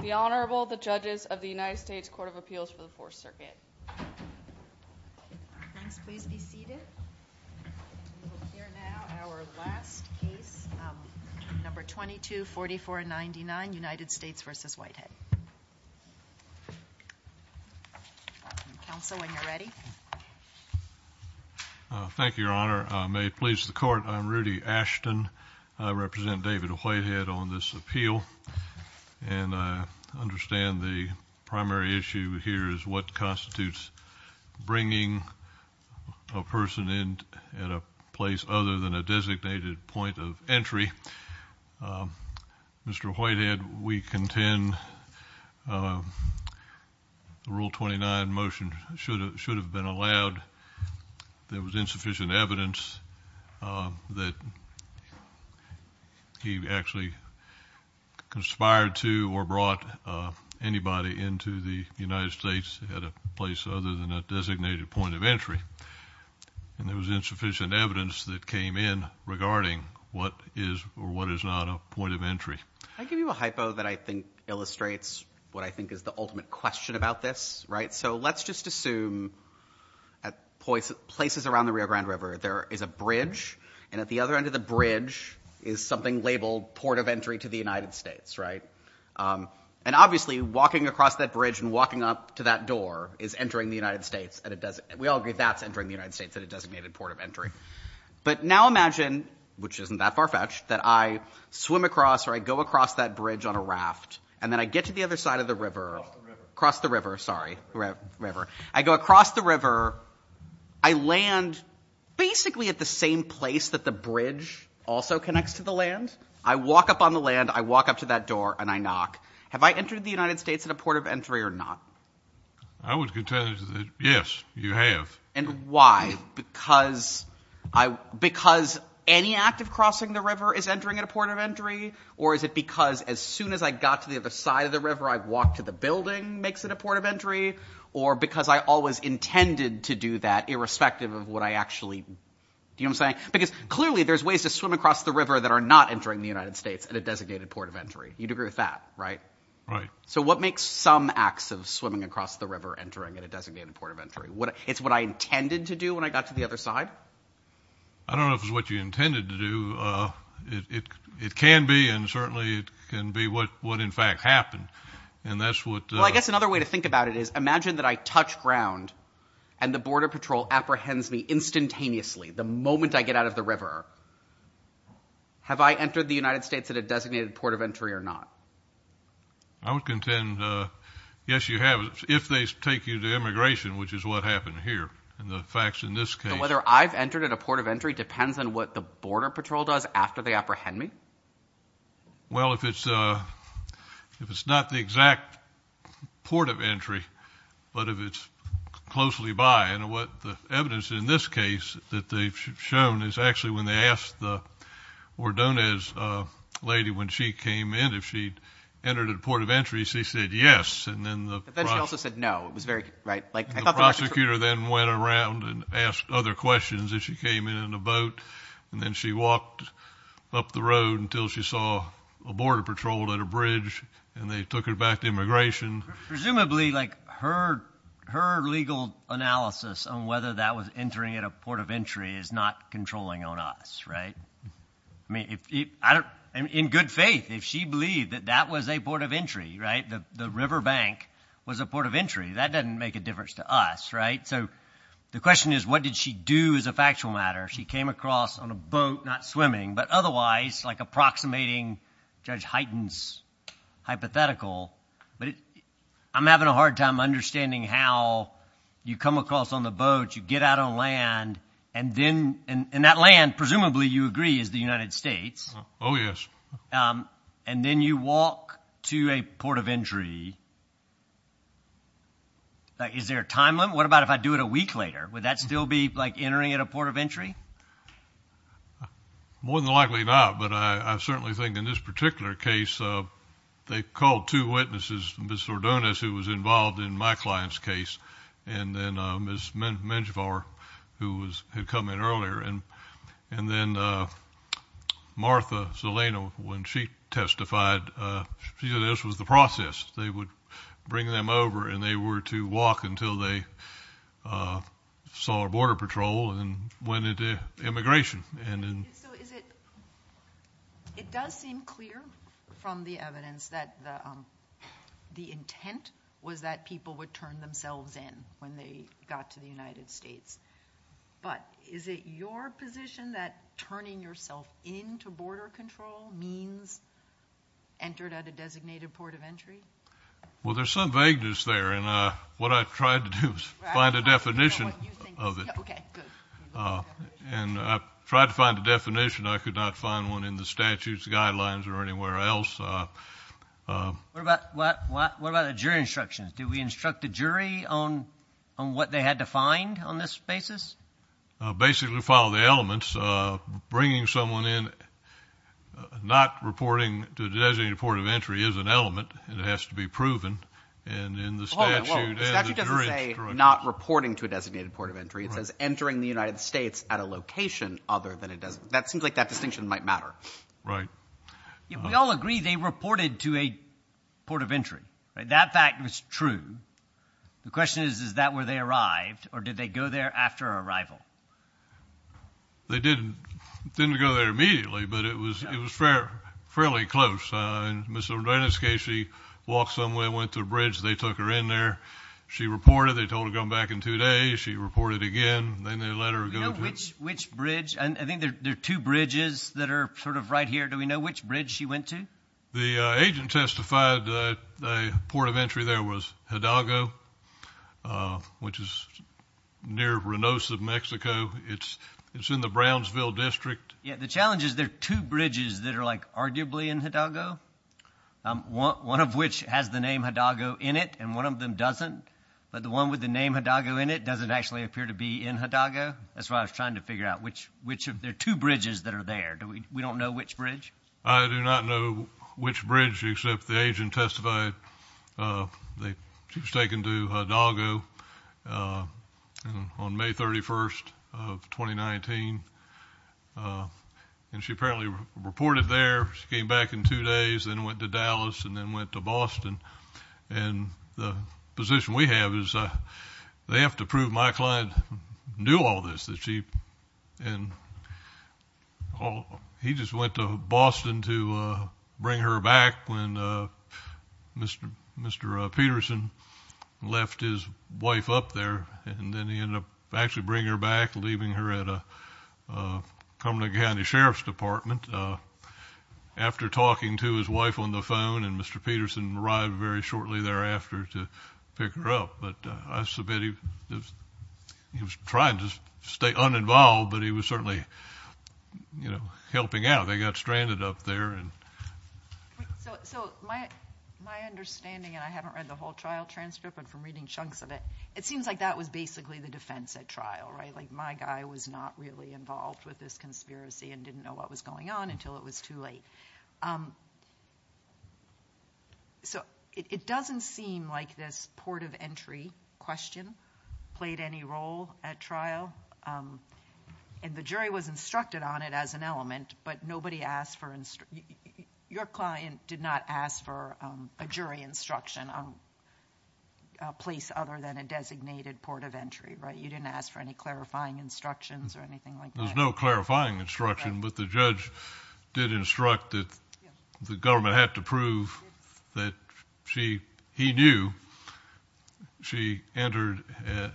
The Honorable, the Judges of the United States Court of Appeals for the Fourth Circuit. Please be seated. We will hear now our last case, number 224499, United States v. Whitehead. Counsel, when you're ready. Thank you, Your Honor. May it please the Court, I'm Rudy Ashton. I represent David Whitehead on this appeal. And I understand the primary issue here is what constitutes bringing a person in at a place other than a designated point of entry. Mr. Whitehead, we contend the Rule 29 motion should have been allowed. There was insufficient evidence that he actually conspired to or brought anybody into the United States at a place other than a designated point of entry. And there was insufficient evidence that came in regarding what is or what is not a point of entry. I give you a hypo that I think illustrates what I think is the ultimate question about this. Right. So let's just assume at places around the Rio Grande River, there is a bridge. And at the other end of the bridge is something labeled port of entry to the United States. Right. And obviously walking across that bridge and walking up to that door is entering the United States. And we all agree that's entering the United States at a designated port of entry. But now imagine, which isn't that far-fetched, that I swim across or I go across that bridge on a raft. And then I get to the other side of the river, cross the river, sorry, river. I go across the river. I land basically at the same place that the bridge also connects to the land. I walk up on the land. I walk up to that door and I knock. Have I entered the United States at a port of entry or not? I would contend that, yes, you have. And why? Because any act of crossing the river is entering at a port of entry? Or is it because as soon as I got to the other side of the river, I walked to the building makes it a port of entry? Or because I always intended to do that irrespective of what I actually, you know what I'm saying? Because clearly there's ways to swim across the river that are not entering the United States at a designated port of entry. You'd agree with that, right? Right. So what makes some acts of swimming across the river entering at a designated port of entry? It's what I intended to do when I got to the other side? I don't know if it's what you intended to do. It can be and certainly it can be what in fact happened. And that's what- Well, I guess another way to think about it is imagine that I touch ground and the border patrol apprehends me instantaneously the moment I get out of the river. Have I entered the United States at a designated port of entry or not? I would contend yes, you have if they take you to immigration, which is what happened here. And the facts in this case- Whether I've entered at a port of entry depends on what the border patrol does after they apprehend me? Well, if it's not the exact port of entry, but if it's closely by. And what the evidence in this case that they've shown is actually when they asked the Ordonez lady when she came in if she entered at a port of entry, she said yes. But then she also said no. The prosecutor then went around and asked other questions if she came in in a boat. And then she walked up the road until she saw a border patrol at a bridge, and they took her back to immigration. Presumably like her legal analysis on whether that was entering at a port of entry is not controlling on us, right? I mean, in good faith, if she believed that that was a port of entry, right, the river bank was a port of entry, that doesn't make a difference to us, right? So the question is, what did she do as a factual matter? She came across on a boat, not swimming, but otherwise like approximating Judge Hyten's hypothetical. But I'm having a hard time understanding how you come across on the boat, you get out on land, and then in that land presumably you agree is the United States. Oh, yes. And then you walk to a port of entry. Is there a time limit? What about if I do it a week later? Would that still be like entering at a port of entry? More than likely not, but I certainly think in this particular case, they called two witnesses, Ms. Ordonez, who was involved in my client's case, and then Ms. Menjivar, who had come in earlier. And then Martha Zelena, when she testified, she said this was the process. They would bring them over, and they were to walk until they saw a border patrol and went into immigration. So it does seem clear from the evidence that the intent was that people would turn themselves in when they got to the United States, but is it your position that turning yourself in to border control means entered at a designated port of entry? Well, there's some vagueness there, and what I tried to do was find a definition of it. And I tried to find a definition. I could not find one in the statute's guidelines or anywhere else. What about the jury instructions? Do we instruct the jury on what they had to find on this basis? Basically follow the elements. Bringing someone in, not reporting to a designated port of entry is an element, and it has to be proven, and in the statute and the jury instructions. The statute doesn't say not reporting to a designated port of entry. It says entering the United States at a location other than a designated. That seems like that distinction might matter. Right. We all agree they reported to a port of entry, right? That fact was true. The question is, is that where they arrived, or did they go there after arrival? They didn't go there immediately, but it was fairly close. In Ms. Odenis' case, she walked somewhere and went to a bridge. They took her in there. She reported. They told her to come back in two days. She reported again. Then they let her go. Do we know which bridge? I think there are two bridges that are sort of right here. Do we know which bridge she went to? The agent testified the port of entry there was Hidalgo, which is near Reynosa, Mexico. It's in the Brownsville District. Yeah, the challenge is there are two bridges that are, like, arguably in Hidalgo, one of which has the name Hidalgo in it and one of them doesn't, but the one with the name Hidalgo in it doesn't actually appear to be in Hidalgo. That's why I was trying to figure out which of the two bridges that are there. We don't know which bridge? I do not know which bridge, except the agent testified she was taken to Hidalgo on May 31st of 2019, and she apparently reported there. She came back in two days, then went to Dallas, and then went to Boston. The position we have is they have to prove my client knew all this. He just went to Boston to bring her back when Mr. Peterson left his wife up there, and then he ended up actually bringing her back, leaving her at a Cumberland County Sheriff's Department. After talking to his wife on the phone, and Mr. Peterson arrived very shortly thereafter to pick her up. But I submit he was trying to stay uninvolved, but he was certainly, you know, helping out. They got stranded up there. So my understanding, and I haven't read the whole trial transcript, but from reading chunks of it, it seems like that was basically the defense at trial, right? Like my guy was not really involved with this conspiracy and didn't know what was going on until it was too late. So it doesn't seem like this port of entry question played any role at trial, and the jury was instructed on it as an element, but nobody asked for instruction. Your client did not ask for a jury instruction on a place other than a designated port of entry, right? Was there any clarifying instructions or anything like that? There was no clarifying instruction, but the judge did instruct that the government had to prove that she, he knew she entered at,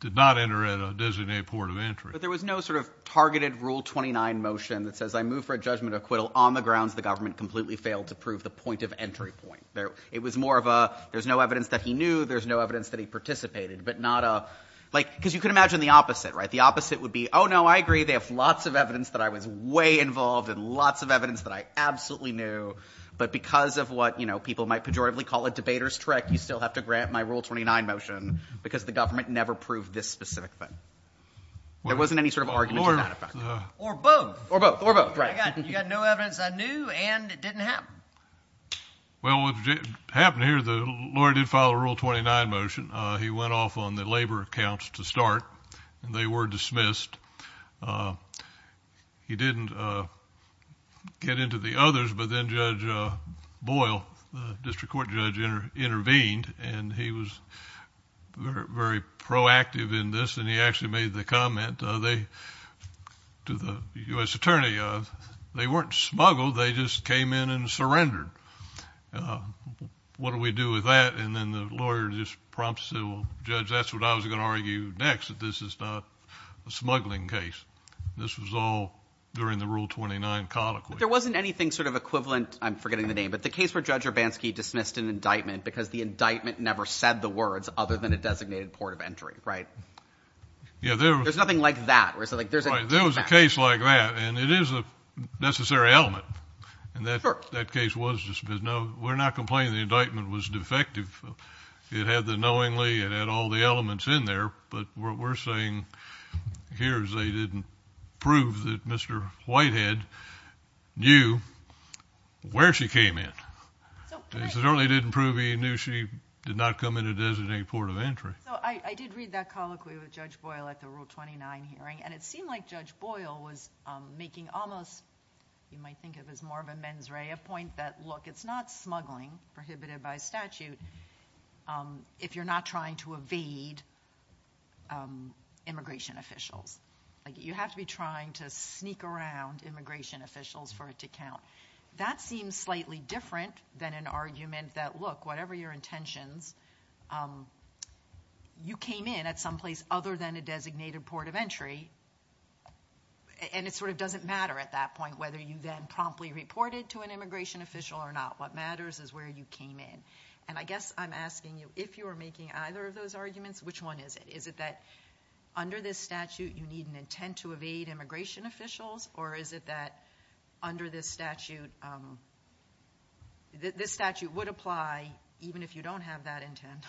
did not enter at a designated port of entry. But there was no sort of targeted Rule 29 motion that says, I move for a judgment acquittal on the grounds the government completely failed to prove the point of entry point. It was more of a, there's no evidence that he knew, there's no evidence that he participated, but not a, like, because you can imagine the opposite, right? The opposite would be, oh, no, I agree, they have lots of evidence that I was way involved and lots of evidence that I absolutely knew, but because of what, you know, people might pejoratively call a debater's trick, you still have to grant my Rule 29 motion because the government never proved this specific thing. There wasn't any sort of argument to that effect. Or both. Or both, or both, right. You got no evidence I knew and it didn't happen. Well, what happened here, the lawyer did file a Rule 29 motion. He went off on the labor accounts to start and they were dismissed. He didn't get into the others, but then Judge Boyle, the district court judge, intervened and he was very proactive in this and he actually made the comment to the U.S. Attorney, they weren't smuggled, they just came in and surrendered. What do we do with that? And then the lawyer just prompts the judge, that's what I was going to argue next, that this is not a smuggling case. This was all during the Rule 29 colloquy. But there wasn't anything sort of equivalent, I'm forgetting the name, but the case where Judge Urbanski dismissed an indictment because the indictment never said the words other than a designated port of entry, right? Yeah, there was. There's nothing like that. Right, there was a case like that and it is a necessary element. And that case was dismissed. Now, we're not complaining the indictment was defective. It had the knowingly, it had all the elements in there, but what we're saying here is they didn't prove that Mr. Whitehead knew where she came in. They certainly didn't prove he knew she did not come in a designated port of entry. So I did read that colloquy with Judge Boyle at the Rule 29 hearing and it seemed like Judge Boyle was making almost, you might think of as more of a mens rea point, that, look, it's not smuggling, prohibited by statute, if you're not trying to evade immigration officials. You have to be trying to sneak around immigration officials for it to count. That seems slightly different than an argument that, look, whatever your intentions, you came in at some place other than a designated port of entry and it sort of doesn't matter at that point whether you then promptly reported to an immigration official or not. What matters is where you came in. And I guess I'm asking you, if you were making either of those arguments, which one is it? Is it that under this statute you need an intent to evade immigration officials or is it that under this statute, this statute would apply even if you don't have that intent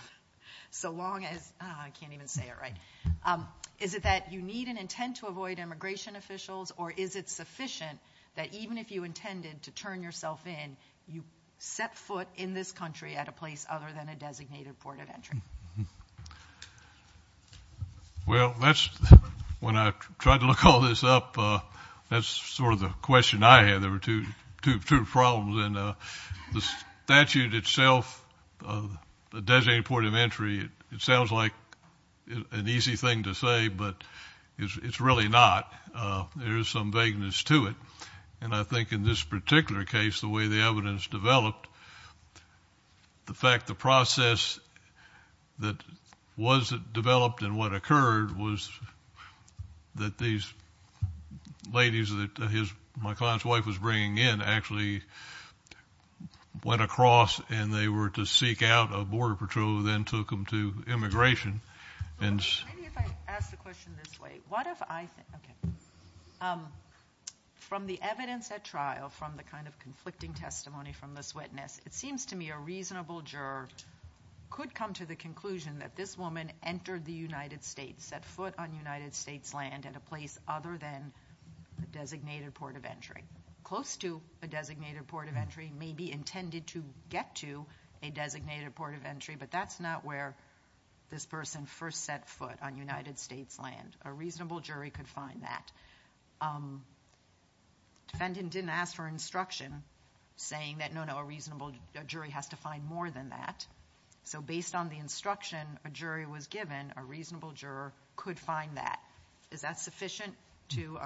so long as, I can't even say it right, is it that you need an intent to avoid immigration officials or is it sufficient that even if you intended to turn yourself in, you set foot in this country at a place other than a designated port of entry? Well, when I tried to look all this up, that's sort of the question I had. There were two problems. And the statute itself, the designated port of entry, it sounds like an easy thing to say, but it's really not. There is some vagueness to it. And I think in this particular case, the way the evidence developed, the fact the process that was developed and what occurred was that these ladies that my client's wife was bringing in actually went across and they were to seek out a border patrol who then took them to immigration. Maybe if I ask the question this way. From the evidence at trial, from the kind of conflicting testimony from this witness, it seems to me a reasonable juror could come to the conclusion that this woman entered the United States, set foot on United States land at a place other than a designated port of entry. Close to a designated port of entry, maybe intended to get to a designated port of entry, but that's not where this person first set foot on United States land. A reasonable jury could find that. Defendant didn't ask for instruction saying that, no, no, a reasonable jury has to find more than that. So based on the instruction a jury was given, a reasonable juror could find that. Is that sufficient to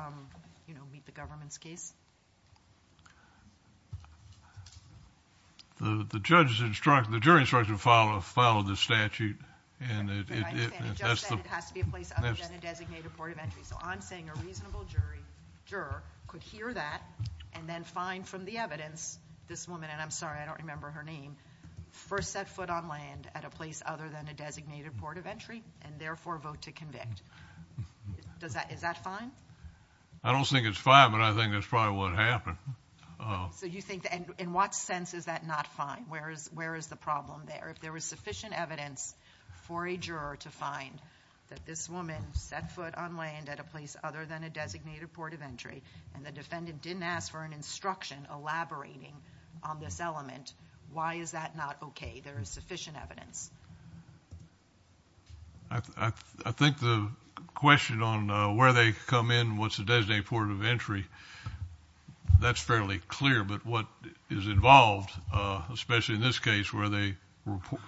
meet the government's case? The judge's instruction, the jury's instruction followed the statute. I understand. The judge said it has to be a place other than a designated port of entry. So I'm saying a reasonable juror could hear that and then find from the evidence this woman, and I'm sorry, I don't remember her name, first set foot on land at a place other than a designated port of entry and therefore vote to convict. Is that fine? I don't think it's fine, but I think that's probably what happened. So you think, in what sense is that not fine? Where is the problem there? If there was sufficient evidence for a juror to find that this woman set foot on land at a place other than a designated port of entry and the defendant didn't ask for an instruction elaborating on this element, why is that not okay? There is sufficient evidence. I think the question on where they come in and what's a designated port of entry, that's fairly clear. But what is involved, especially in this case where they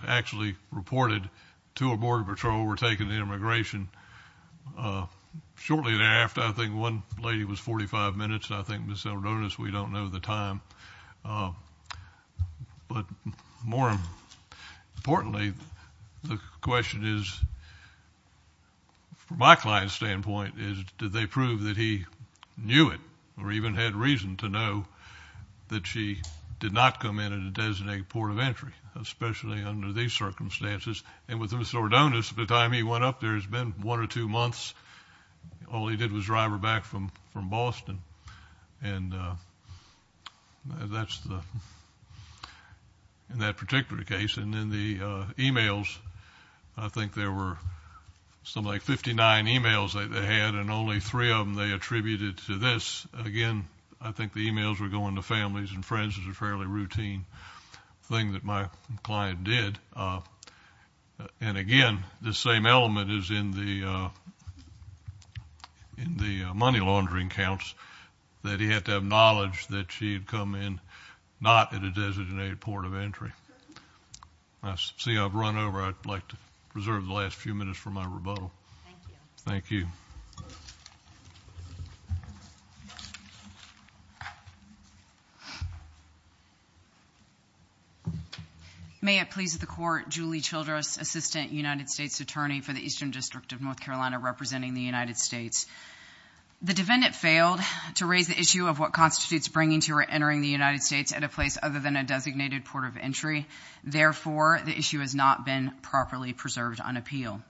actually reported to a border patrol, were taking the immigration shortly thereafter. I think one lady was 45 minutes, and I think Ms. Saldonis, we don't know the time. But more importantly, the question is, from my client's standpoint, is did they prove that he knew it or even had reason to know that she did not come in at a designated port of entry, especially under these circumstances? And with Ms. Saldonis, at the time he went up there, it's been one or two months. All he did was drive her back from Boston, and that's in that particular case. And then the e-mails, I think there were something like 59 e-mails that they had, and only three of them they attributed to this. Again, I think the e-mails were going to families and friends. It's a fairly routine thing that my client did. And again, the same element is in the money laundering counts, that he had to have knowledge that she had come in not at a designated port of entry. Seeing I've run over, I'd like to reserve the last few minutes for my rebuttal. Thank you. Thank you. Thank you. May it please the Court, Julie Childress, Assistant United States Attorney for the Eastern District of North Carolina, representing the United States. The defendant failed to raise the issue of what constitutes bringing to or entering the United States at a place other than a designated port of entry. Therefore, the issue has not been properly preserved on appeal.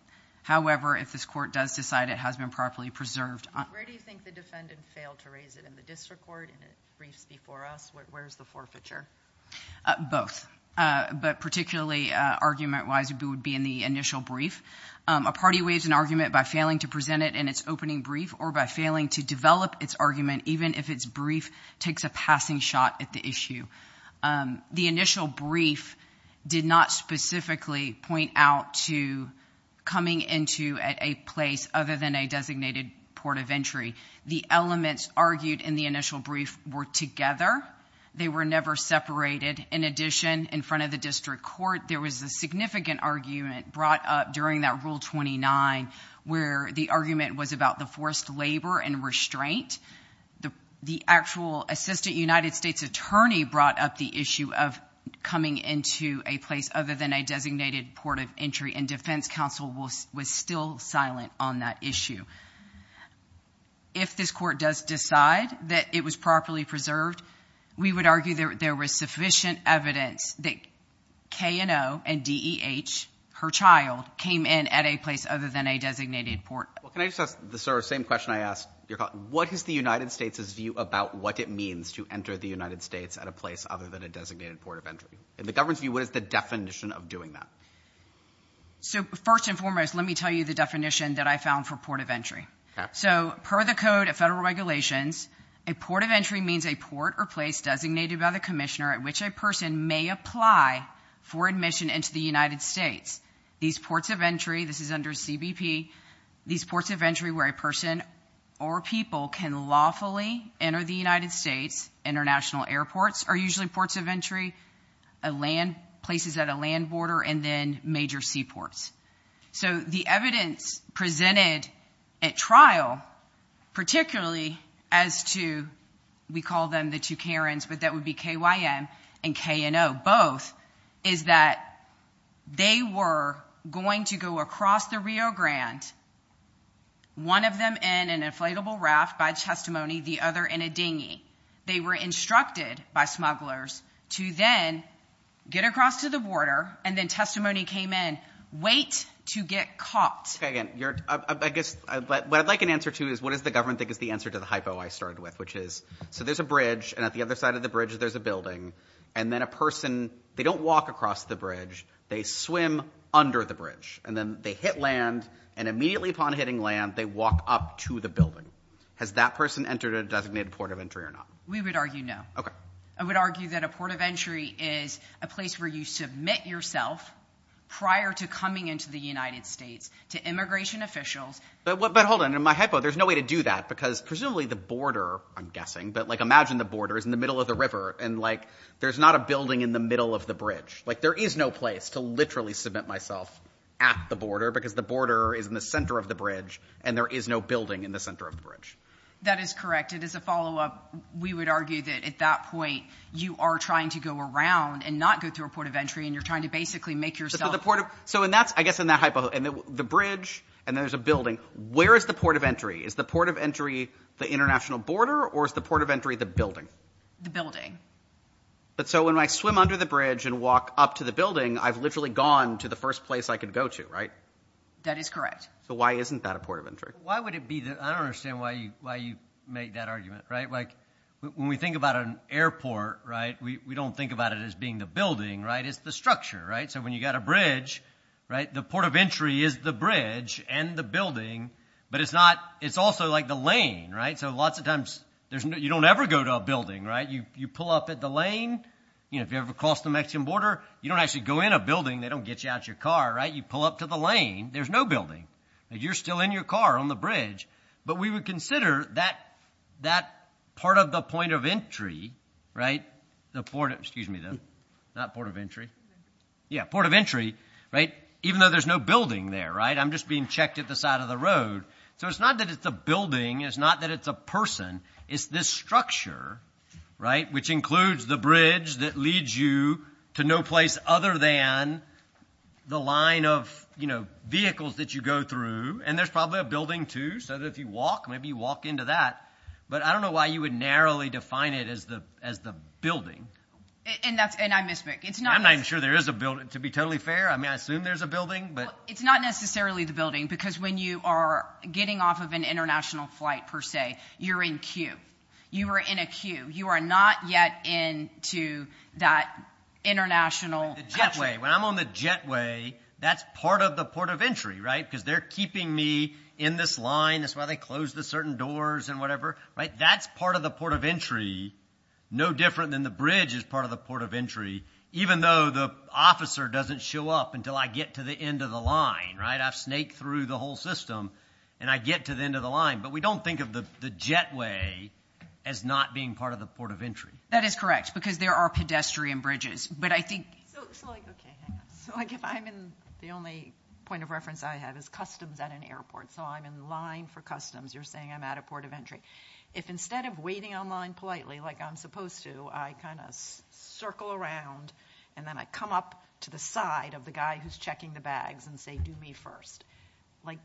However, if this Court does decide it has been properly preserved. Where do you think the defendant failed to raise it? In the district court, in the briefs before us? Where is the forfeiture? Both. But particularly argument-wise, it would be in the initial brief. A party waives an argument by failing to present it in its opening brief or by failing to develop its argument even if its brief takes a passing shot at the issue. The initial brief did not specifically point out to coming into at a place other than a designated port of entry. The elements argued in the initial brief were together. They were never separated. In addition, in front of the district court, there was a significant argument brought up during that Rule 29 where the argument was about the forced labor and restraint. The actual assistant United States attorney brought up the issue of coming into a place other than a designated port of entry, and defense counsel was still silent on that issue. If this Court does decide that it was properly preserved, we would argue there was sufficient evidence that K&O and DEH, her child, came in at a place other than a designated port. Well, can I just ask the sort of same question I asked your colleague? What is the United States' view about what it means to enter the United States at a place other than a designated port of entry? In the government's view, what is the definition of doing that? So first and foremost, let me tell you the definition that I found for port of entry. So per the Code of Federal Regulations, a port of entry means a port or place designated by the commissioner at which a person may apply for admission into the United States. These ports of entry, this is under CBP, these ports of entry where a person or people can lawfully enter the United States, international airports are usually ports of entry, places at a land border, and then major seaports. So the evidence presented at trial, particularly as to, we call them the two Karens, but that would be KYM and K&O both, is that they were going to go across the Rio Grande, one of them in an inflatable raft by testimony, the other in a dinghy. They were instructed by smugglers to then get across to the border, and then testimony came in. Wait to get caught. What I'd like an answer to is what does the government think is the answer to the hypo I started with, which is so there's a bridge, and at the other side of the bridge there's a building, and then a person, they don't walk across the bridge, they swim under the bridge, and then they hit land, and immediately upon hitting land they walk up to the building. Has that person entered a designated port of entry or not? We would argue no. Okay. I would argue that a port of entry is a place where you submit yourself prior to coming into the United States to immigration officials. But hold on, in my hypo there's no way to do that because presumably the border, I'm guessing, but, like, imagine the border is in the middle of the river, and, like, there's not a building in the middle of the bridge. Like, there is no place to literally submit myself at the border because the border is in the center of the bridge, and there is no building in the center of the bridge. That is correct. As a follow-up, we would argue that at that point you are trying to go around and not go through a port of entry, and you're trying to basically make yourself. So I guess in that hypo, and the bridge, and there's a building, where is the port of entry? Is the port of entry the international border, or is the port of entry the building? The building. So when I swim under the bridge and walk up to the building, I've literally gone to the first place I could go to, right? That is correct. So why isn't that a port of entry? Why would it be? I don't understand why you make that argument, right? Like, when we think about an airport, right, we don't think about it as being the building, right? It's the structure, right? So when you've got a bridge, right, the port of entry is the bridge and the building, but it's also like the lane, right? So lots of times you don't ever go to a building, right? You pull up at the lane. You know, if you ever cross the Mexican border, you don't actually go in a building. They don't get you out of your car, right? You pull up to the lane. There's no building. You're still in your car on the bridge. But we would consider that part of the point of entry, right, the port of entry, right, even though there's no building there, right? I'm just being checked at the side of the road. So it's not that it's a building. It's not that it's a person. It's this structure, right, which includes the bridge that leads you to no place other than the line of, you know, vehicles that you go through. And there's probably a building, too, so that if you walk, maybe you walk into that. But I don't know why you would narrowly define it as the building. And I misspoke. I'm not even sure there is a building. To be totally fair, I mean, I assume there's a building. It's not necessarily the building because when you are getting off of an international flight, per se, you're in queue. You are in a queue. You are not yet into that international country. The jetway. When I'm on the jetway, that's part of the port of entry, right, because they're keeping me in this line. That's why they close the certain doors and whatever, right? That's part of the port of entry, no different than the bridge is part of the port of entry, even though the officer doesn't show up until I get to the end of the line, right? I've snaked through the whole system, and I get to the end of the line. But we don't think of the jetway as not being part of the port of entry. That is correct because there are pedestrian bridges. But I think so, like, okay, hang on. So, like, if I'm in the only point of reference I have is customs at an airport, so I'm in line for customs. You're saying I'm at a port of entry. If instead of waiting on line politely like I'm supposed to, I kind of circle around, and then I come up to the side of the guy who's checking the bags and say, do me first, like,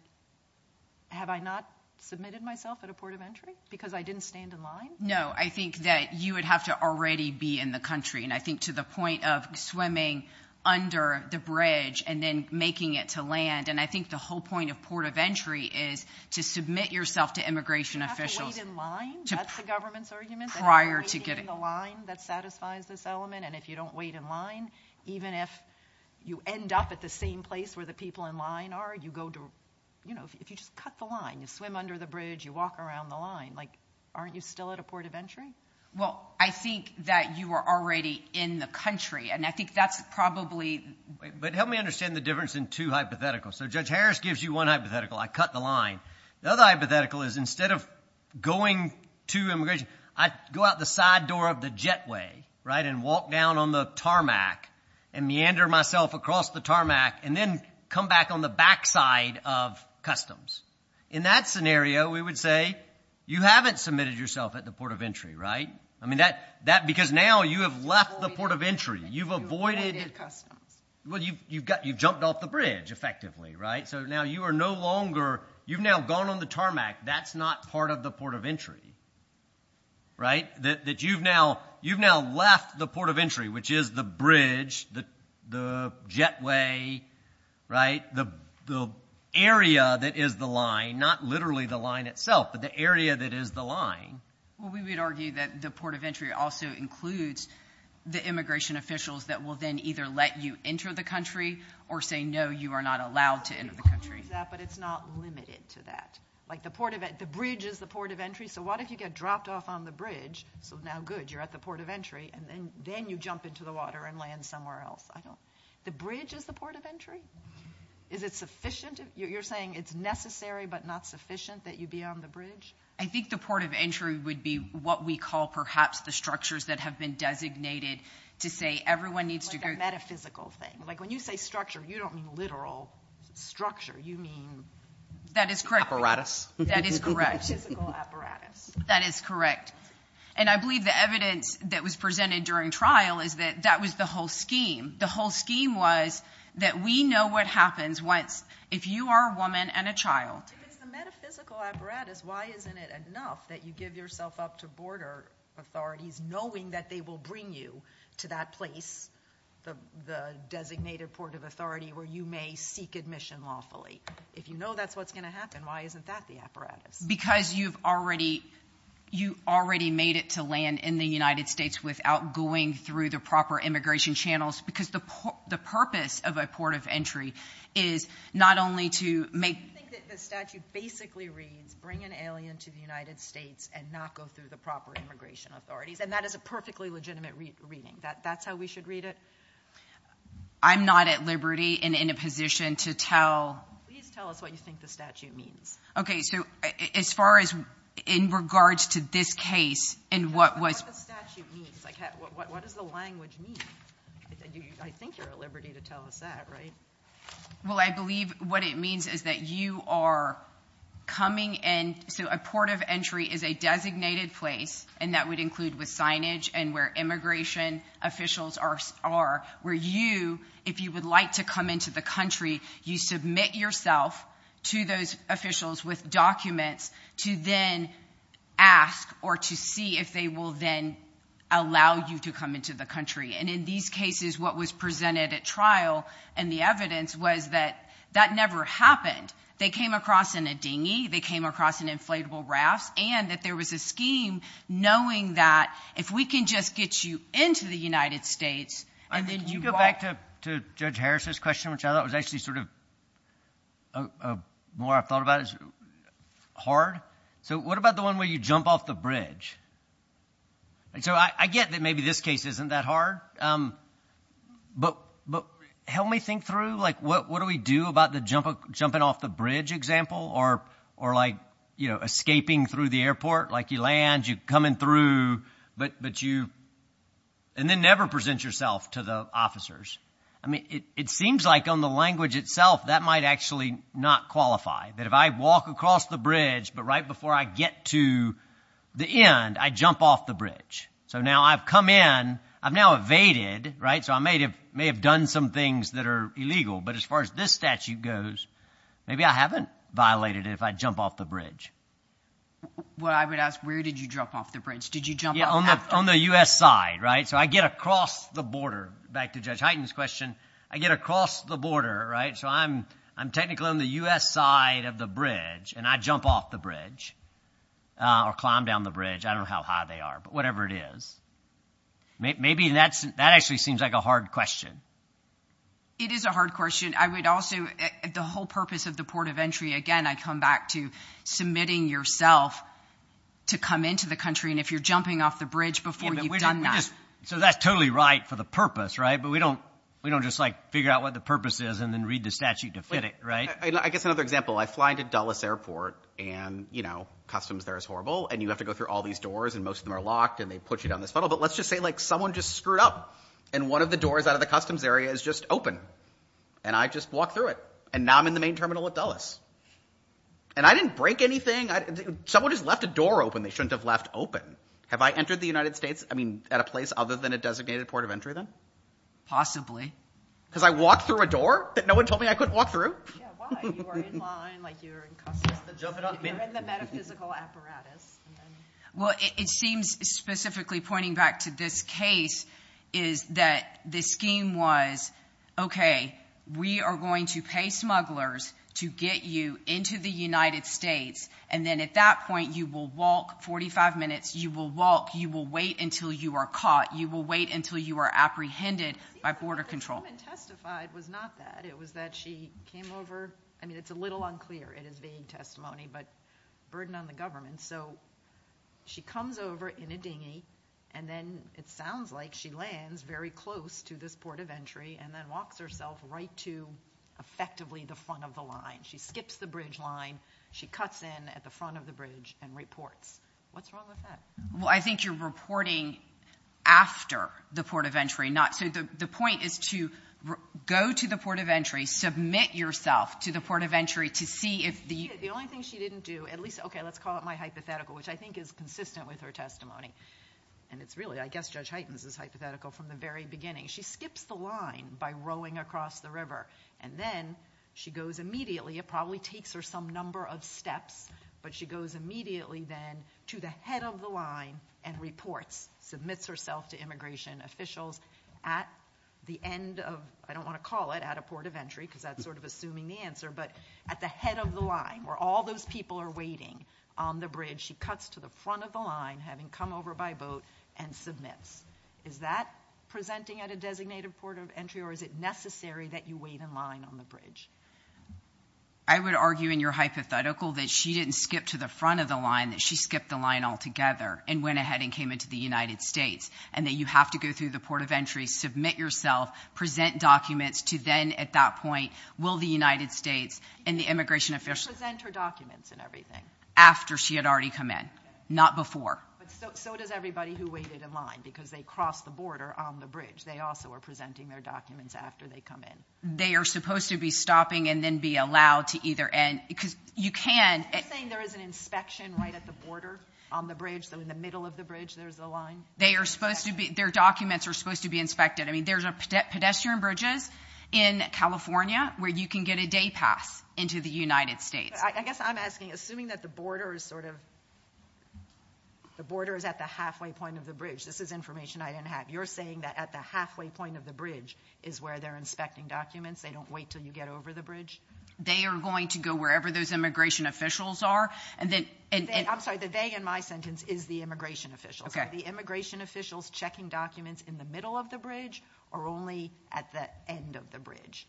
have I not submitted myself at a port of entry because I didn't stand in line? No, I think that you would have to already be in the country, and I think to the point of swimming under the bridge and then making it to land, and I think the whole point of port of entry is to submit yourself to immigration officials. If you don't wait in line, that's the government's argument. Prior to getting. If you wait in the line, that satisfies this element, and if you don't wait in line, even if you end up at the same place where the people in line are, you go to, you know, if you just cut the line, you swim under the bridge, you walk around the line, like, aren't you still at a port of entry? Well, I think that you are already in the country, and I think that's probably. But help me understand the difference in two hypotheticals. So Judge Harris gives you one hypothetical, I cut the line. The other hypothetical is instead of going to immigration, I go out the side door of the jetway, right, and walk down on the tarmac and meander myself across the tarmac and then come back on the backside of customs. In that scenario, we would say you haven't submitted yourself at the port of entry, right? I mean, because now you have left the port of entry. You've avoided customs. Well, you've jumped off the bridge, effectively, right? So now you are no longer, you've now gone on the tarmac. That's not part of the port of entry, right? That you've now left the port of entry, which is the bridge, the jetway, right, the area that is the line, not literally the line itself, but the area that is the line. Well, we would argue that the port of entry also includes the immigration officials that will then either let you enter the country or say, no, you are not allowed to enter the country. But it's not limited to that. Like the bridge is the port of entry, so what if you get dropped off on the bridge? So now, good, you're at the port of entry, and then you jump into the water and land somewhere else. The bridge is the port of entry? Is it sufficient? You're saying it's necessary but not sufficient that you be on the bridge? I think the port of entry would be what we call perhaps the structures that have been designated to say everyone needs to go. Like a metaphysical thing. Like when you say structure, you don't mean literal structure. You mean apparatus? That is correct. Metaphysical apparatus. That is correct. And I believe the evidence that was presented during trial is that that was the whole scheme. The whole scheme was that we know what happens if you are a woman and a child. If it's the metaphysical apparatus, why isn't it enough that you give yourself up to border authorities knowing that they will bring you to that place, the designated port of authority, where you may seek admission lawfully? If you know that's what's going to happen, why isn't that the apparatus? Because you've already made it to land in the United States without going through the proper immigration channels because the purpose of a port of entry is not only to make – I think that the statute basically reads bring an alien to the United States and not go through the proper immigration authorities. And that is a perfectly legitimate reading. That's how we should read it? I'm not at liberty and in a position to tell. Please tell us what you think the statute means. Okay. So as far as in regards to this case and what was – What does the statute mean? What does the language mean? I think you're at liberty to tell us that, right? Well, I believe what it means is that you are coming in – So a port of entry is a designated place, and that would include with signage and where immigration officials are, where you, if you would like to come into the country, you submit yourself to those officials with documents to then ask or to see if they will then allow you to come into the country. And in these cases, what was presented at trial and the evidence was that that never happened. They came across in a dinghy. They came across in inflatable rafts, and that there was a scheme knowing that if we can just get you into the United States and then you walk – Can you go back to Judge Harris' question, which I thought was actually sort of more I've thought about as hard? So what about the one where you jump off the bridge? So I get that maybe this case isn't that hard, but help me think through, like, what do we do about the jumping off the bridge example or, like, escaping through the airport? Like, you land, you're coming through, but you – and then never present yourself to the officers. I mean, it seems like on the language itself that might actually not qualify, that if I walk across the bridge, but right before I get to the end, I jump off the bridge. So now I've come in. I've now evaded, right? So I may have done some things that are illegal. But as far as this statute goes, maybe I haven't violated it if I jump off the bridge. Well, I would ask, where did you jump off the bridge? Did you jump off after? Yeah, on the U.S. side, right? So I get across the border. Back to Judge Hyten's question, I get across the border, right? So I'm technically on the U.S. side of the bridge, and I jump off the bridge or climb down the bridge. I don't know how high they are, but whatever it is. Maybe that actually seems like a hard question. It is a hard question. I would also, the whole purpose of the port of entry, again, I come back to submitting yourself to come into the country, and if you're jumping off the bridge before you've done that. So that's totally right for the purpose, right? But we don't just, like, figure out what the purpose is and then read the statute to fit it, right? I guess another example, I fly into Dulles Airport, and, you know, customs there is horrible, and you have to go through all these doors, and most of them are locked, and they put you down this funnel. But let's just say, like, someone just screwed up, and one of the doors out of the customs area is just open, and I just walked through it, and now I'm in the main terminal at Dulles. And I didn't break anything. Someone just left a door open they shouldn't have left open. Have I entered the United States, I mean, at a place other than a designated port of entry, then? Possibly. Because I walked through a door that no one told me I couldn't walk through? Yeah, why? You are in line like you're in customs. You're in the metaphysical apparatus. Well, it seems, specifically pointing back to this case, is that the scheme was, okay, we are going to pay smugglers to get you into the United States, and then at that point you will walk 45 minutes, you will walk, you will wait until you are caught, you will wait until you are apprehended by border control. The statement testified was not that. It was that she came over. I mean, it's a little unclear. It is vague testimony, but burden on the government. So she comes over in a dinghy, and then it sounds like she lands very close to this port of entry and then walks herself right to, effectively, the front of the line. She skips the bridge line. She cuts in at the front of the bridge and reports. What's wrong with that? Well, I think you're reporting after the port of entry. So the point is to go to the port of entry, submit yourself to the port of entry to see if the... Okay, let's call it my hypothetical, which I think is consistent with her testimony. And it's really, I guess Judge Heitens' hypothetical from the very beginning. She skips the line by rowing across the river, and then she goes immediately. It probably takes her some number of steps, but she goes immediately then to the head of the line and reports, submits herself to immigration officials at the end of, I don't want to call it, at a port of entry, because that's sort of assuming the answer, but at the head of the line where all those people are waiting on the bridge, she cuts to the front of the line, having come over by boat, and submits. Is that presenting at a designated port of entry, or is it necessary that you wait in line on the bridge? I would argue in your hypothetical that she didn't skip to the front of the line, that she skipped the line altogether and went ahead and came into the United States, and that you have to go through the port of entry, submit yourself, present documents to then, at that point, will the United States and the immigration officials— Did she present her documents and everything? After she had already come in, not before. But so does everybody who waited in line, because they crossed the border on the bridge. They also were presenting their documents after they come in. They are supposed to be stopping and then be allowed to either end, because you can— Are you saying there is an inspection right at the border on the bridge, so in the middle of the bridge there's a line? They are supposed to be—their documents are supposed to be inspected. I mean, there's pedestrian bridges in California where you can get a day pass into the United States. I guess I'm asking, assuming that the border is sort of— the border is at the halfway point of the bridge. This is information I didn't have. You're saying that at the halfway point of the bridge is where they're inspecting documents. They don't wait until you get over the bridge? They are going to go wherever those immigration officials are. I'm sorry, the they in my sentence is the immigration officials. Are the immigration officials checking documents in the middle of the bridge or only at the end of the bridge?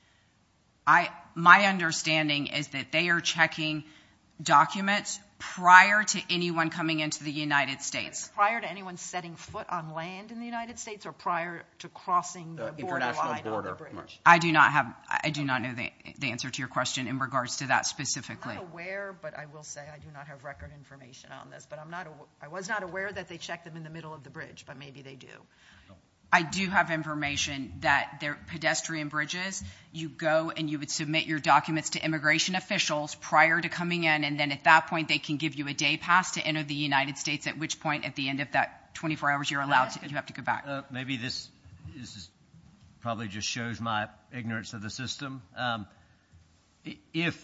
My understanding is that they are checking documents prior to anyone coming into the United States. Prior to anyone setting foot on land in the United States or prior to crossing the borderline on the bridge? I do not know the answer to your question in regards to that specifically. I'm not aware, but I will say I do not have record information on this. But I was not aware that they checked them in the middle of the bridge, but maybe they do. I do have information that there are pedestrian bridges. You go and you would submit your documents to immigration officials prior to coming in, and then at that point they can give you a day pass to enter the United States, at which point at the end of that 24 hours you're allowed to—you have to go back. Maybe this probably just shows my ignorance of the system. If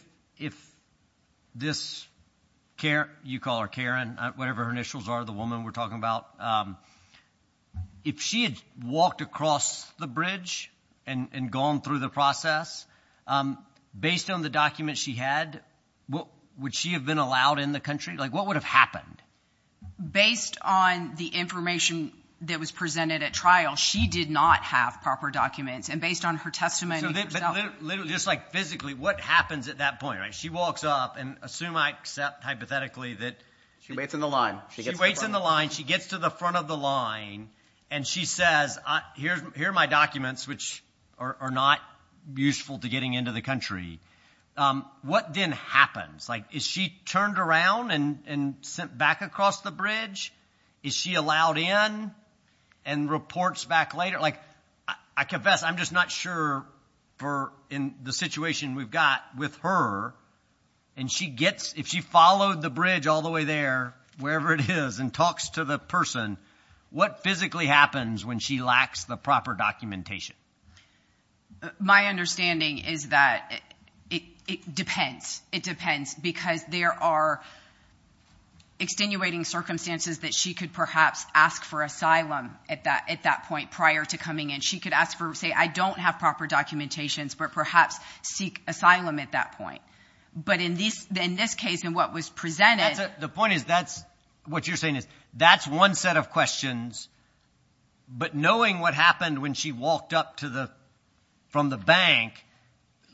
this Karen—you call her Karen, whatever her initials are, the woman we're talking about— if she had walked across the bridge and gone through the process, based on the documents she had, would she have been allowed in the country? What would have happened? Based on the information that was presented at trial, she did not have proper documents. And based on her testimony— Literally, just like physically, what happens at that point? She walks up, and assume I accept hypothetically that— She waits in the line. She waits in the line. She gets to the front of the line, and she says, here are my documents, which are not useful to getting into the country. What then happens? Is she turned around and sent back across the bridge? Is she allowed in and reports back later? Like, I confess, I'm just not sure in the situation we've got with her, and she gets—if she followed the bridge all the way there, wherever it is, and talks to the person, what physically happens when she lacks the proper documentation? My understanding is that it depends. It depends because there are extenuating circumstances that she could perhaps ask for asylum at that point prior to coming in. She could ask for—say, I don't have proper documentations, but perhaps seek asylum at that point. But in this case, in what was presented— The point is that's—what you're saying is that's one set of questions, but knowing what happened when she walked up from the bank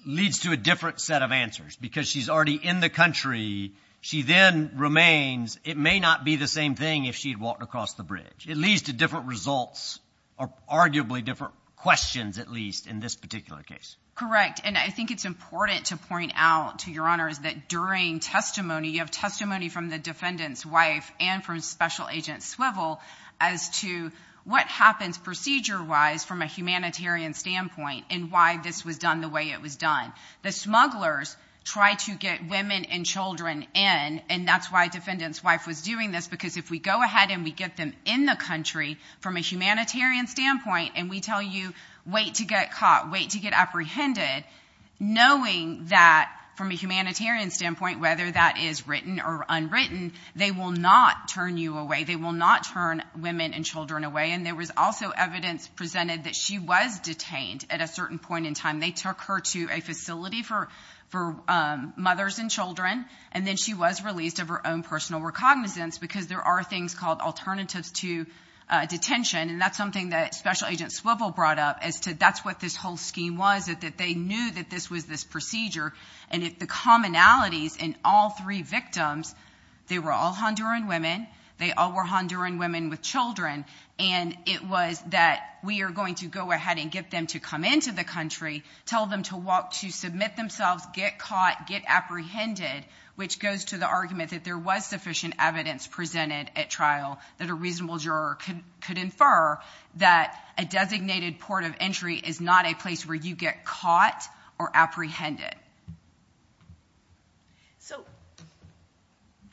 leads to a different set of answers because she's already in the country. She then remains—it may not be the same thing if she had walked across the bridge. It leads to different results, or arguably different questions at least, in this particular case. Correct, and I think it's important to point out to Your Honors that during testimony, you have testimony from the defendant's wife and from Special Agent Swivel as to what happens procedure-wise from a humanitarian standpoint and why this was done the way it was done. The smugglers try to get women and children in, and that's why defendant's wife was doing this because if we go ahead and we get them in the country from a humanitarian standpoint and we tell you, wait to get caught, wait to get apprehended, knowing that from a humanitarian standpoint, whether that is written or unwritten, they will not turn you away. They will not turn women and children away. And there was also evidence presented that she was detained at a certain point in time. They took her to a facility for mothers and children, and then she was released of her own personal recognizance because there are things called alternatives to detention, and that's something that Special Agent Swivel brought up as to that's what this whole scheme was, that they knew that this was this procedure. And the commonalities in all three victims, they were all Honduran women. They all were Honduran women with children, and it was that we are going to go ahead and get them to come into the country and tell them to walk to submit themselves, get caught, get apprehended, which goes to the argument that there was sufficient evidence presented at trial that a reasonable juror could infer that a designated port of entry is not a place where you get caught or apprehended. So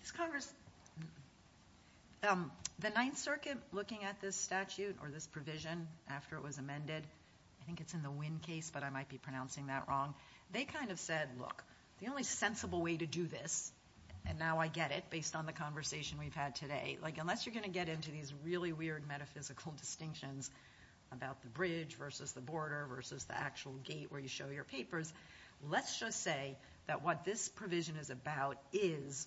is Congress, the Ninth Circuit looking at this statute or this provision after it was amended? I think it's in the Wynn case, but I might be pronouncing that wrong. They kind of said, look, the only sensible way to do this, and now I get it based on the conversation we've had today, like unless you're going to get into these really weird metaphysical distinctions about the bridge versus the border versus the actual gate where you show your papers, let's just say that what this provision is about is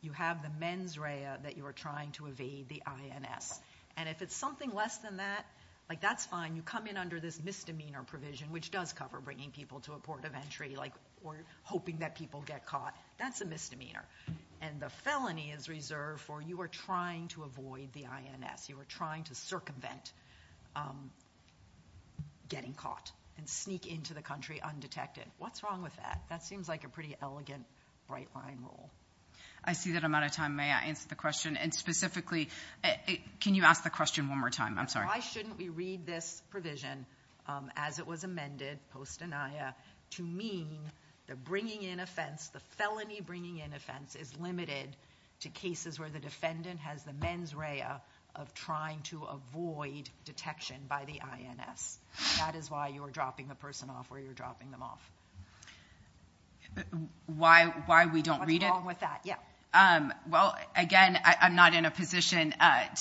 you have the mens rea that you are trying to evade, the INS. And if it's something less than that, like that's fine. You come in under this misdemeanor provision, which does cover bringing people to a port of entry or hoping that people get caught, that's a misdemeanor. And the felony is reserved for you are trying to avoid the INS. You are trying to circumvent getting caught and sneak into the country undetected. What's wrong with that? That seems like a pretty elegant right-line rule. I see that I'm out of time. May I answer the question? And specifically, can you ask the question one more time? I'm sorry. Why shouldn't we read this provision as it was amended post-denia to mean the felony bringing in offense is limited to cases where the defendant has the mens rea of trying to avoid detection by the INS? That is why you are dropping the person off where you're dropping them off. Why we don't read it? What's wrong with that? Well, again, I'm not in a position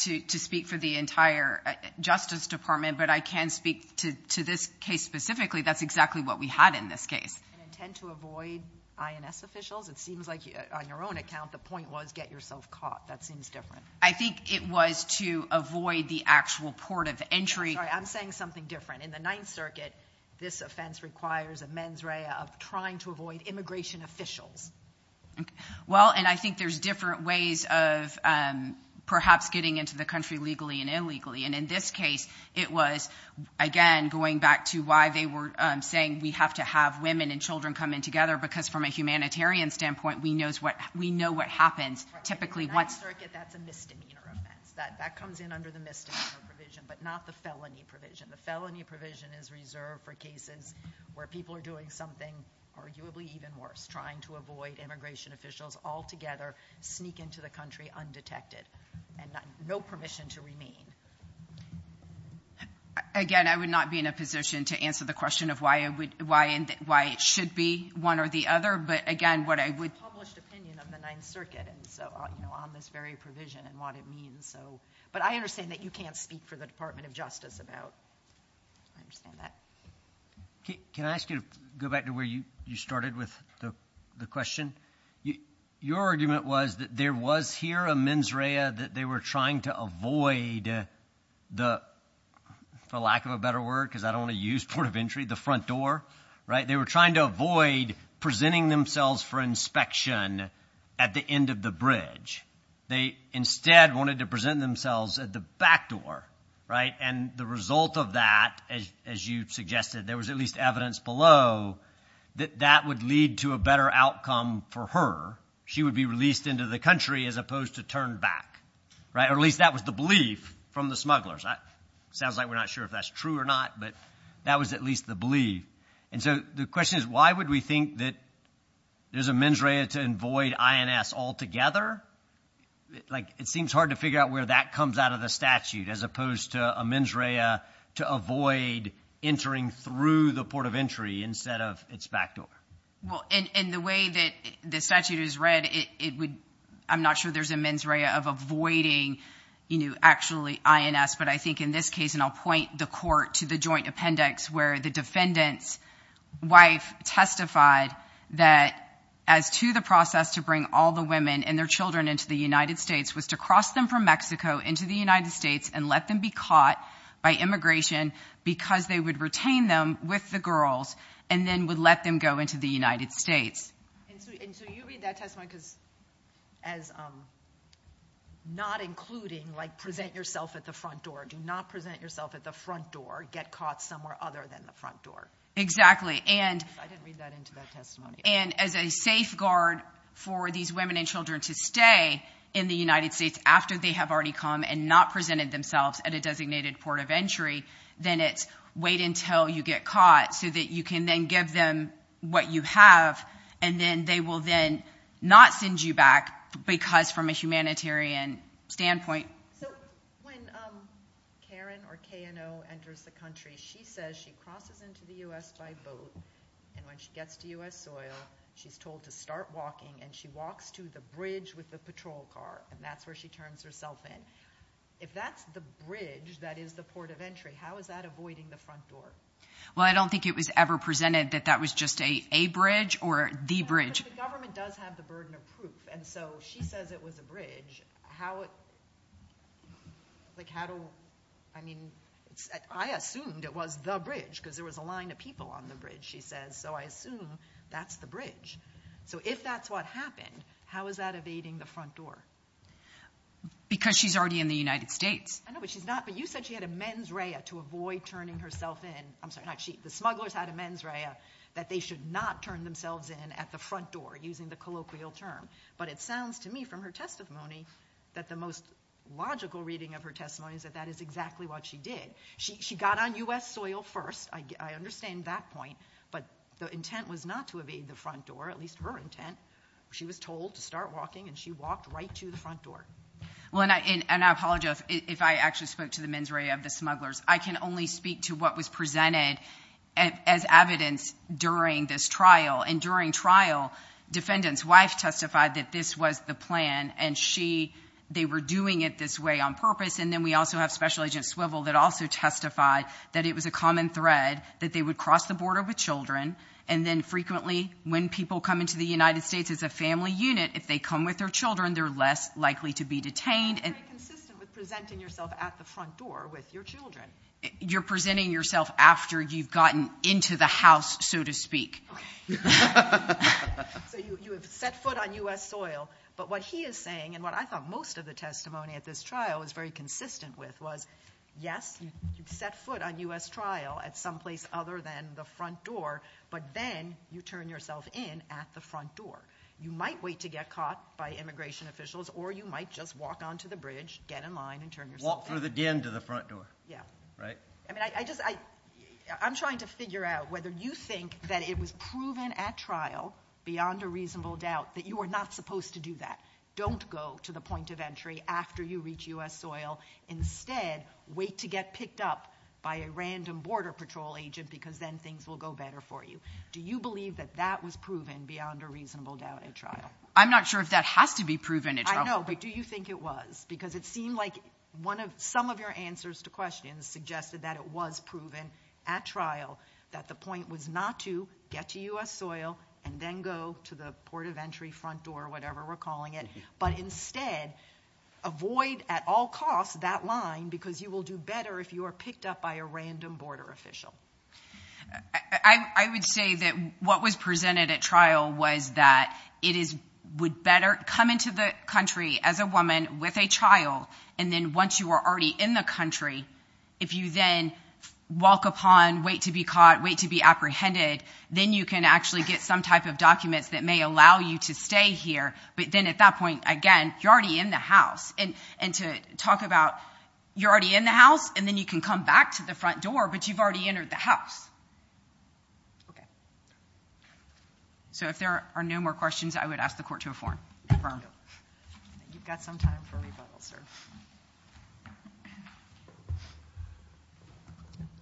to speak for the entire Justice Department, but I can speak to this case specifically. That's exactly what we had in this case. An intent to avoid INS officials? It seems like on your own account the point was get yourself caught. That seems different. I think it was to avoid the actual port of entry. I'm sorry. I'm saying something different. In the Ninth Circuit, this offense requires a mens rea of trying to avoid immigration officials. Well, and I think there's different ways of perhaps getting into the country legally and illegally. In this case, it was, again, going back to why they were saying we have to have women and children come in together because from a humanitarian standpoint, we know what happens. In the Ninth Circuit, that's a misdemeanor offense. That comes in under the misdemeanor provision, but not the felony provision. The felony provision is reserved for cases where people are doing something arguably even worse, trying to avoid immigration officials altogether sneak into the country undetected and no permission to remain. Again, I would not be in a position to answer the question of why it should be one or the other, but again, what I would— That's a published opinion of the Ninth Circuit on this very provision and what it means. But I understand that you can't speak for the Department of Justice about—I understand that. Can I ask you to go back to where you started with the question? Your argument was that there was here a mens rea that they were trying to avoid the— for lack of a better word because I don't want to use port of entry—the front door, right? They were trying to avoid presenting themselves for inspection at the end of the bridge. They instead wanted to present themselves at the back door, right? And the result of that, as you suggested, there was at least evidence below that that would lead to a better outcome for her. She would be released into the country as opposed to turned back, right? Or at least that was the belief from the smugglers. It sounds like we're not sure if that's true or not, but that was at least the belief. And so the question is why would we think that there's a mens rea to avoid INS altogether? It seems hard to figure out where that comes out of the statute as opposed to a mens rea to avoid entering through the port of entry instead of its back door. Well, in the way that the statute is read, I'm not sure there's a mens rea of avoiding actually INS, but I think in this case—and I'll point the court to the joint appendix where the defendant's wife testified that as to the process to bring all the women and their children into the United States was to cross them from Mexico into the United States and let them be caught by immigration because they would retain them with the girls and then would let them go into the United States. And so you read that testimony as not including, like, present yourself at the front door. Do not present yourself at the front door. Get caught somewhere other than the front door. Exactly. I didn't read that into that testimony. And as a safeguard for these women and children to stay in the United States after they have already come and not presented themselves at a designated port of entry, then it's wait until you get caught so that you can then give them what you have, and then they will then not send you back because from a humanitarian standpoint— So when Karen, or KNO, enters the country, she says she crosses into the U.S. by boat, and when she gets to U.S. soil, she's told to start walking, and she walks to the bridge with the patrol car, and that's where she turns herself in. If that's the bridge that is the port of entry, how is that avoiding the front door? Well, I don't think it was ever presented that that was just a bridge or the bridge. But the government does have the burden of proof, and so she says it was a bridge. How—like how do—I mean, I assumed it was the bridge because there was a line of people on the bridge, she says, so I assume that's the bridge. So if that's what happened, how is that evading the front door? Because she's already in the United States. I know, but she's not—but you said she had a mens rea to avoid turning herself in. The smugglers had a mens rea that they should not turn themselves in at the front door, using the colloquial term. But it sounds to me from her testimony that the most logical reading of her testimony is that that is exactly what she did. She got on U.S. soil first. I understand that point, but the intent was not to evade the front door, at least her intent. She was told to start walking, and she walked right to the front door. Well, and I apologize if I actually spoke to the mens rea of the smugglers. I can only speak to what was presented as evidence during this trial. And during trial, defendant's wife testified that this was the plan, and she—they were doing it this way on purpose. And then we also have Special Agent Swivel that also testified that it was a common thread that they would cross the border with children. And then frequently, when people come into the United States as a family unit, if they come with their children, they're less likely to be detained. You're very consistent with presenting yourself at the front door with your children. You're presenting yourself after you've gotten into the house, so to speak. Okay. So you have set foot on U.S. soil, but what he is saying, and what I thought most of the testimony at this trial was very consistent with, was, yes, you set foot on U.S. trial at someplace other than the front door, but then you turn yourself in at the front door. You might wait to get caught by immigration officials, or you might just walk onto the bridge, get in line, and turn yourself in. Walk through the den to the front door. Yeah. Right? I mean, I just—I'm trying to figure out whether you think that it was proven at trial, beyond a reasonable doubt, that you were not supposed to do that. Don't go to the point of entry after you reach U.S. soil. Instead, wait to get picked up by a random Border Patrol agent because then things will go better for you. Do you believe that that was proven beyond a reasonable doubt at trial? I'm not sure if that has to be proven at trial. I know, but do you think it was? Because it seemed like some of your answers to questions suggested that it was proven at trial, that the point was not to get to U.S. soil and then go to the port of entry, front door, whatever we're calling it, but instead avoid at all costs that line because you will do better if you are picked up by a random border official. I would say that what was presented at trial was that it is—would better come into the country as a woman with a child, and then once you are already in the country, if you then walk upon, wait to be caught, wait to be apprehended, then you can actually get some type of documents that may allow you to stay here. But then at that point, again, you're already in the house. And to talk about you're already in the house, and then you can come back to the front door, but you've already entered the house. Okay. So if there are no more questions, I would ask the Court to affirm. You've got some time for rebuttal, sir.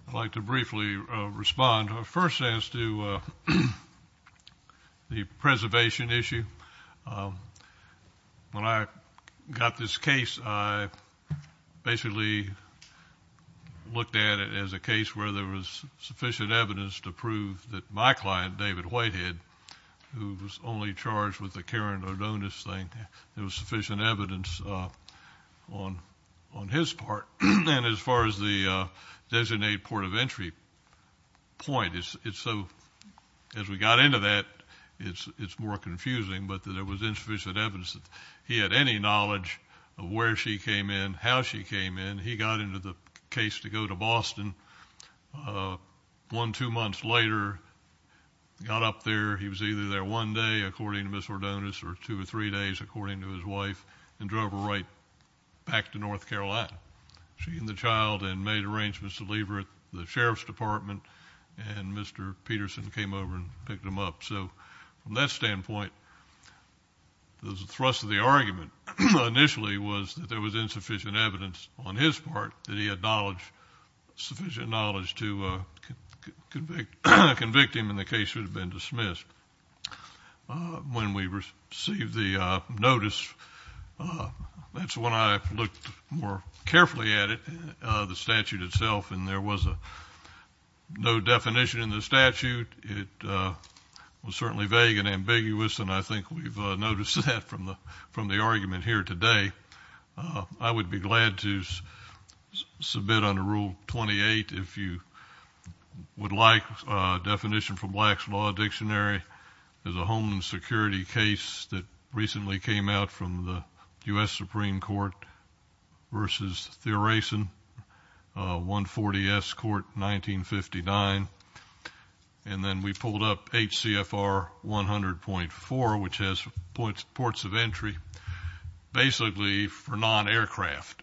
I'd like to briefly respond. First, as to the preservation issue, when I got this case, I basically looked at it as a case where there was sufficient evidence to prove that my client, David Whitehead, who was only charged with the Karen Adonis thing, there was sufficient evidence on his part. And as far as the designated port of entry point, it's so—as we got into that, it's more confusing, but there was insufficient evidence that he had any knowledge of where she came in, how she came in. He got into the case to go to Boston. One, two months later, got up there. He was either there one day, according to Ms. Adonis, or two or three days, according to his wife, and drove her right back to North Carolina. She and the child had made arrangements to leave her at the Sheriff's Department, and Mr. Peterson came over and picked them up. So from that standpoint, the thrust of the argument initially was that there was insufficient evidence on his part, that he had sufficient knowledge to convict him, and the case would have been dismissed. When we received the notice, that's when I looked more carefully at it, the statute itself, and there was no definition in the statute. It was certainly vague and ambiguous, and I think we've noticed that from the argument here today. I would be glad to submit under Rule 28, if you would like, a definition from Black's Law Dictionary. There's a Homeland Security case that recently came out from the U.S. Supreme Court v. Thurasin, 140-S Court, 1959. And then we pulled up HCFR 100.4, which has ports of entry. Basically for non-aircraft,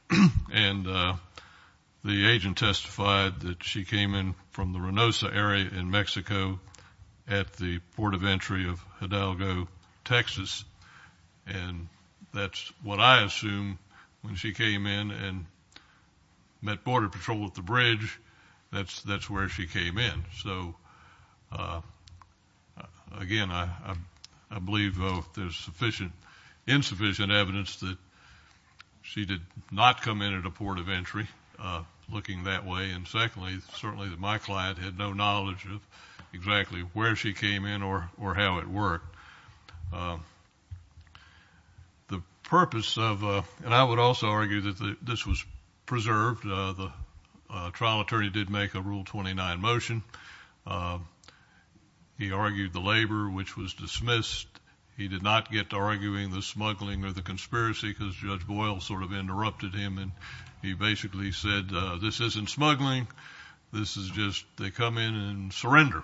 and the agent testified that she came in from the Reynosa area in Mexico at the port of entry of Hidalgo, Texas, and that's what I assume. When she came in and met Border Patrol at the bridge, that's where she came in. So again, I believe there's insufficient evidence that she did not come in at a port of entry, looking that way. And secondly, certainly that my client had no knowledge of exactly where she came in or how it worked. The purpose of, and I would also argue that this was preserved. The trial attorney did make a Rule 29 motion. He argued the labor, which was dismissed. He did not get to arguing the smuggling or the conspiracy, because Judge Boyle sort of interrupted him, and he basically said, this isn't smuggling. This is just, they come in and surrender.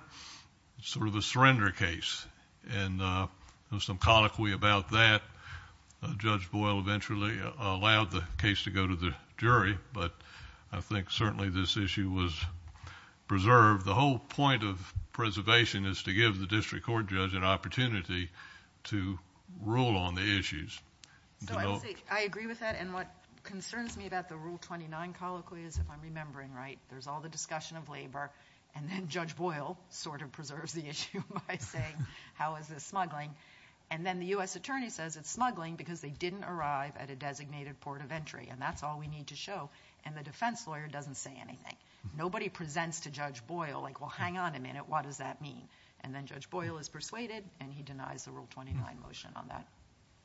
Sort of a surrender case, and there was some colloquy about that. Judge Boyle eventually allowed the case to go to the jury, but I think certainly this issue was preserved. The whole point of preservation is to give the district court judge an opportunity to rule on the issues. So I agree with that, and what concerns me about the Rule 29 colloquy is, if I'm remembering right, there's all the discussion of labor, and then Judge Boyle sort of preserves the issue by saying, how is this smuggling? And then the U.S. attorney says it's smuggling because they didn't arrive at a designated port of entry, and that's all we need to show. And the defense lawyer doesn't say anything. Nobody presents to Judge Boyle, like, well, hang on a minute, what does that mean? And then Judge Boyle is persuaded, and he denies the Rule 29 motion on that,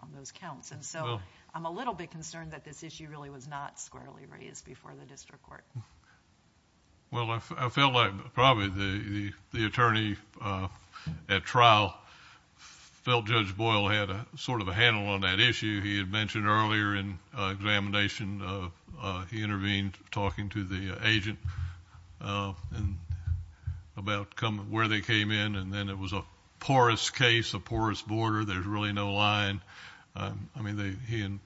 on those counts. And so I'm a little bit concerned that this issue really was not squarely raised before the district court. Well, I felt like probably the attorney at trial felt Judge Boyle had sort of a handle on that issue. He had mentioned earlier in examination he intervened talking to the agent about where they came in, and then it was a porous case, a porous border. There's really no line. I mean, he and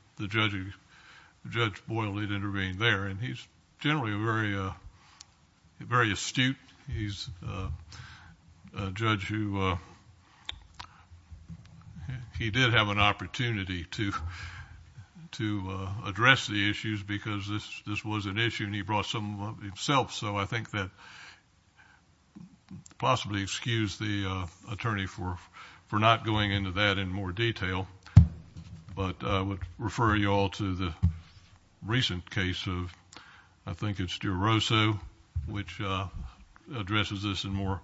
Judge Boyle had intervened there, and he's generally very astute. He's a judge who he did have an opportunity to address the issues because this was an issue, and he brought some of it himself. So I think that possibly excuse the attorney for not going into that in more detail, but I would refer you all to the recent case of, I think it's Duroso, which addresses this in more...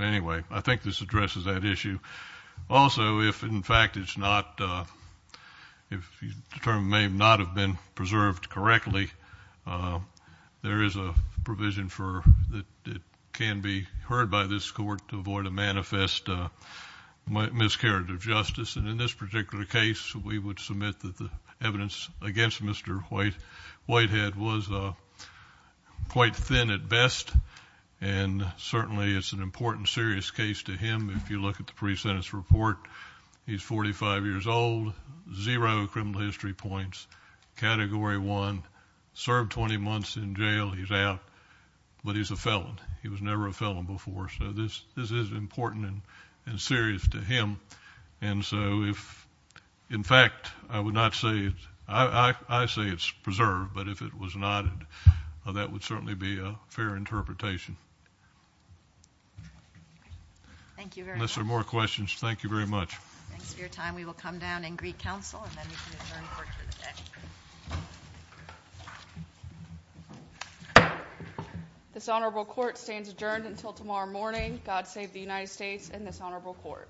Anyway, I think this addresses that issue. Also, if in fact it's not, if the term may not have been preserved correctly, there is a provision that can be heard by this court to avoid a manifest miscarriage of justice. And in this particular case, we would submit that the evidence against Mr. Whitehead was quite thin at best, and certainly it's an important serious case to him if you look at the pre-sentence report. He's 45 years old, zero criminal history points, Category 1, served 20 months in jail. He's out, but he's a felon. He was never a felon before, so this is important and serious to him. And so if in fact I would not say, I say it's preserved, but if it was not, that would certainly be a fair interpretation. Thank you very much. Unless there are more questions, thank you very much. Thanks for your time. We will come down in Greek Council, and then we can adjourn court for the day. This honorable court stands adjourned until tomorrow morning. God save the United States and this honorable court.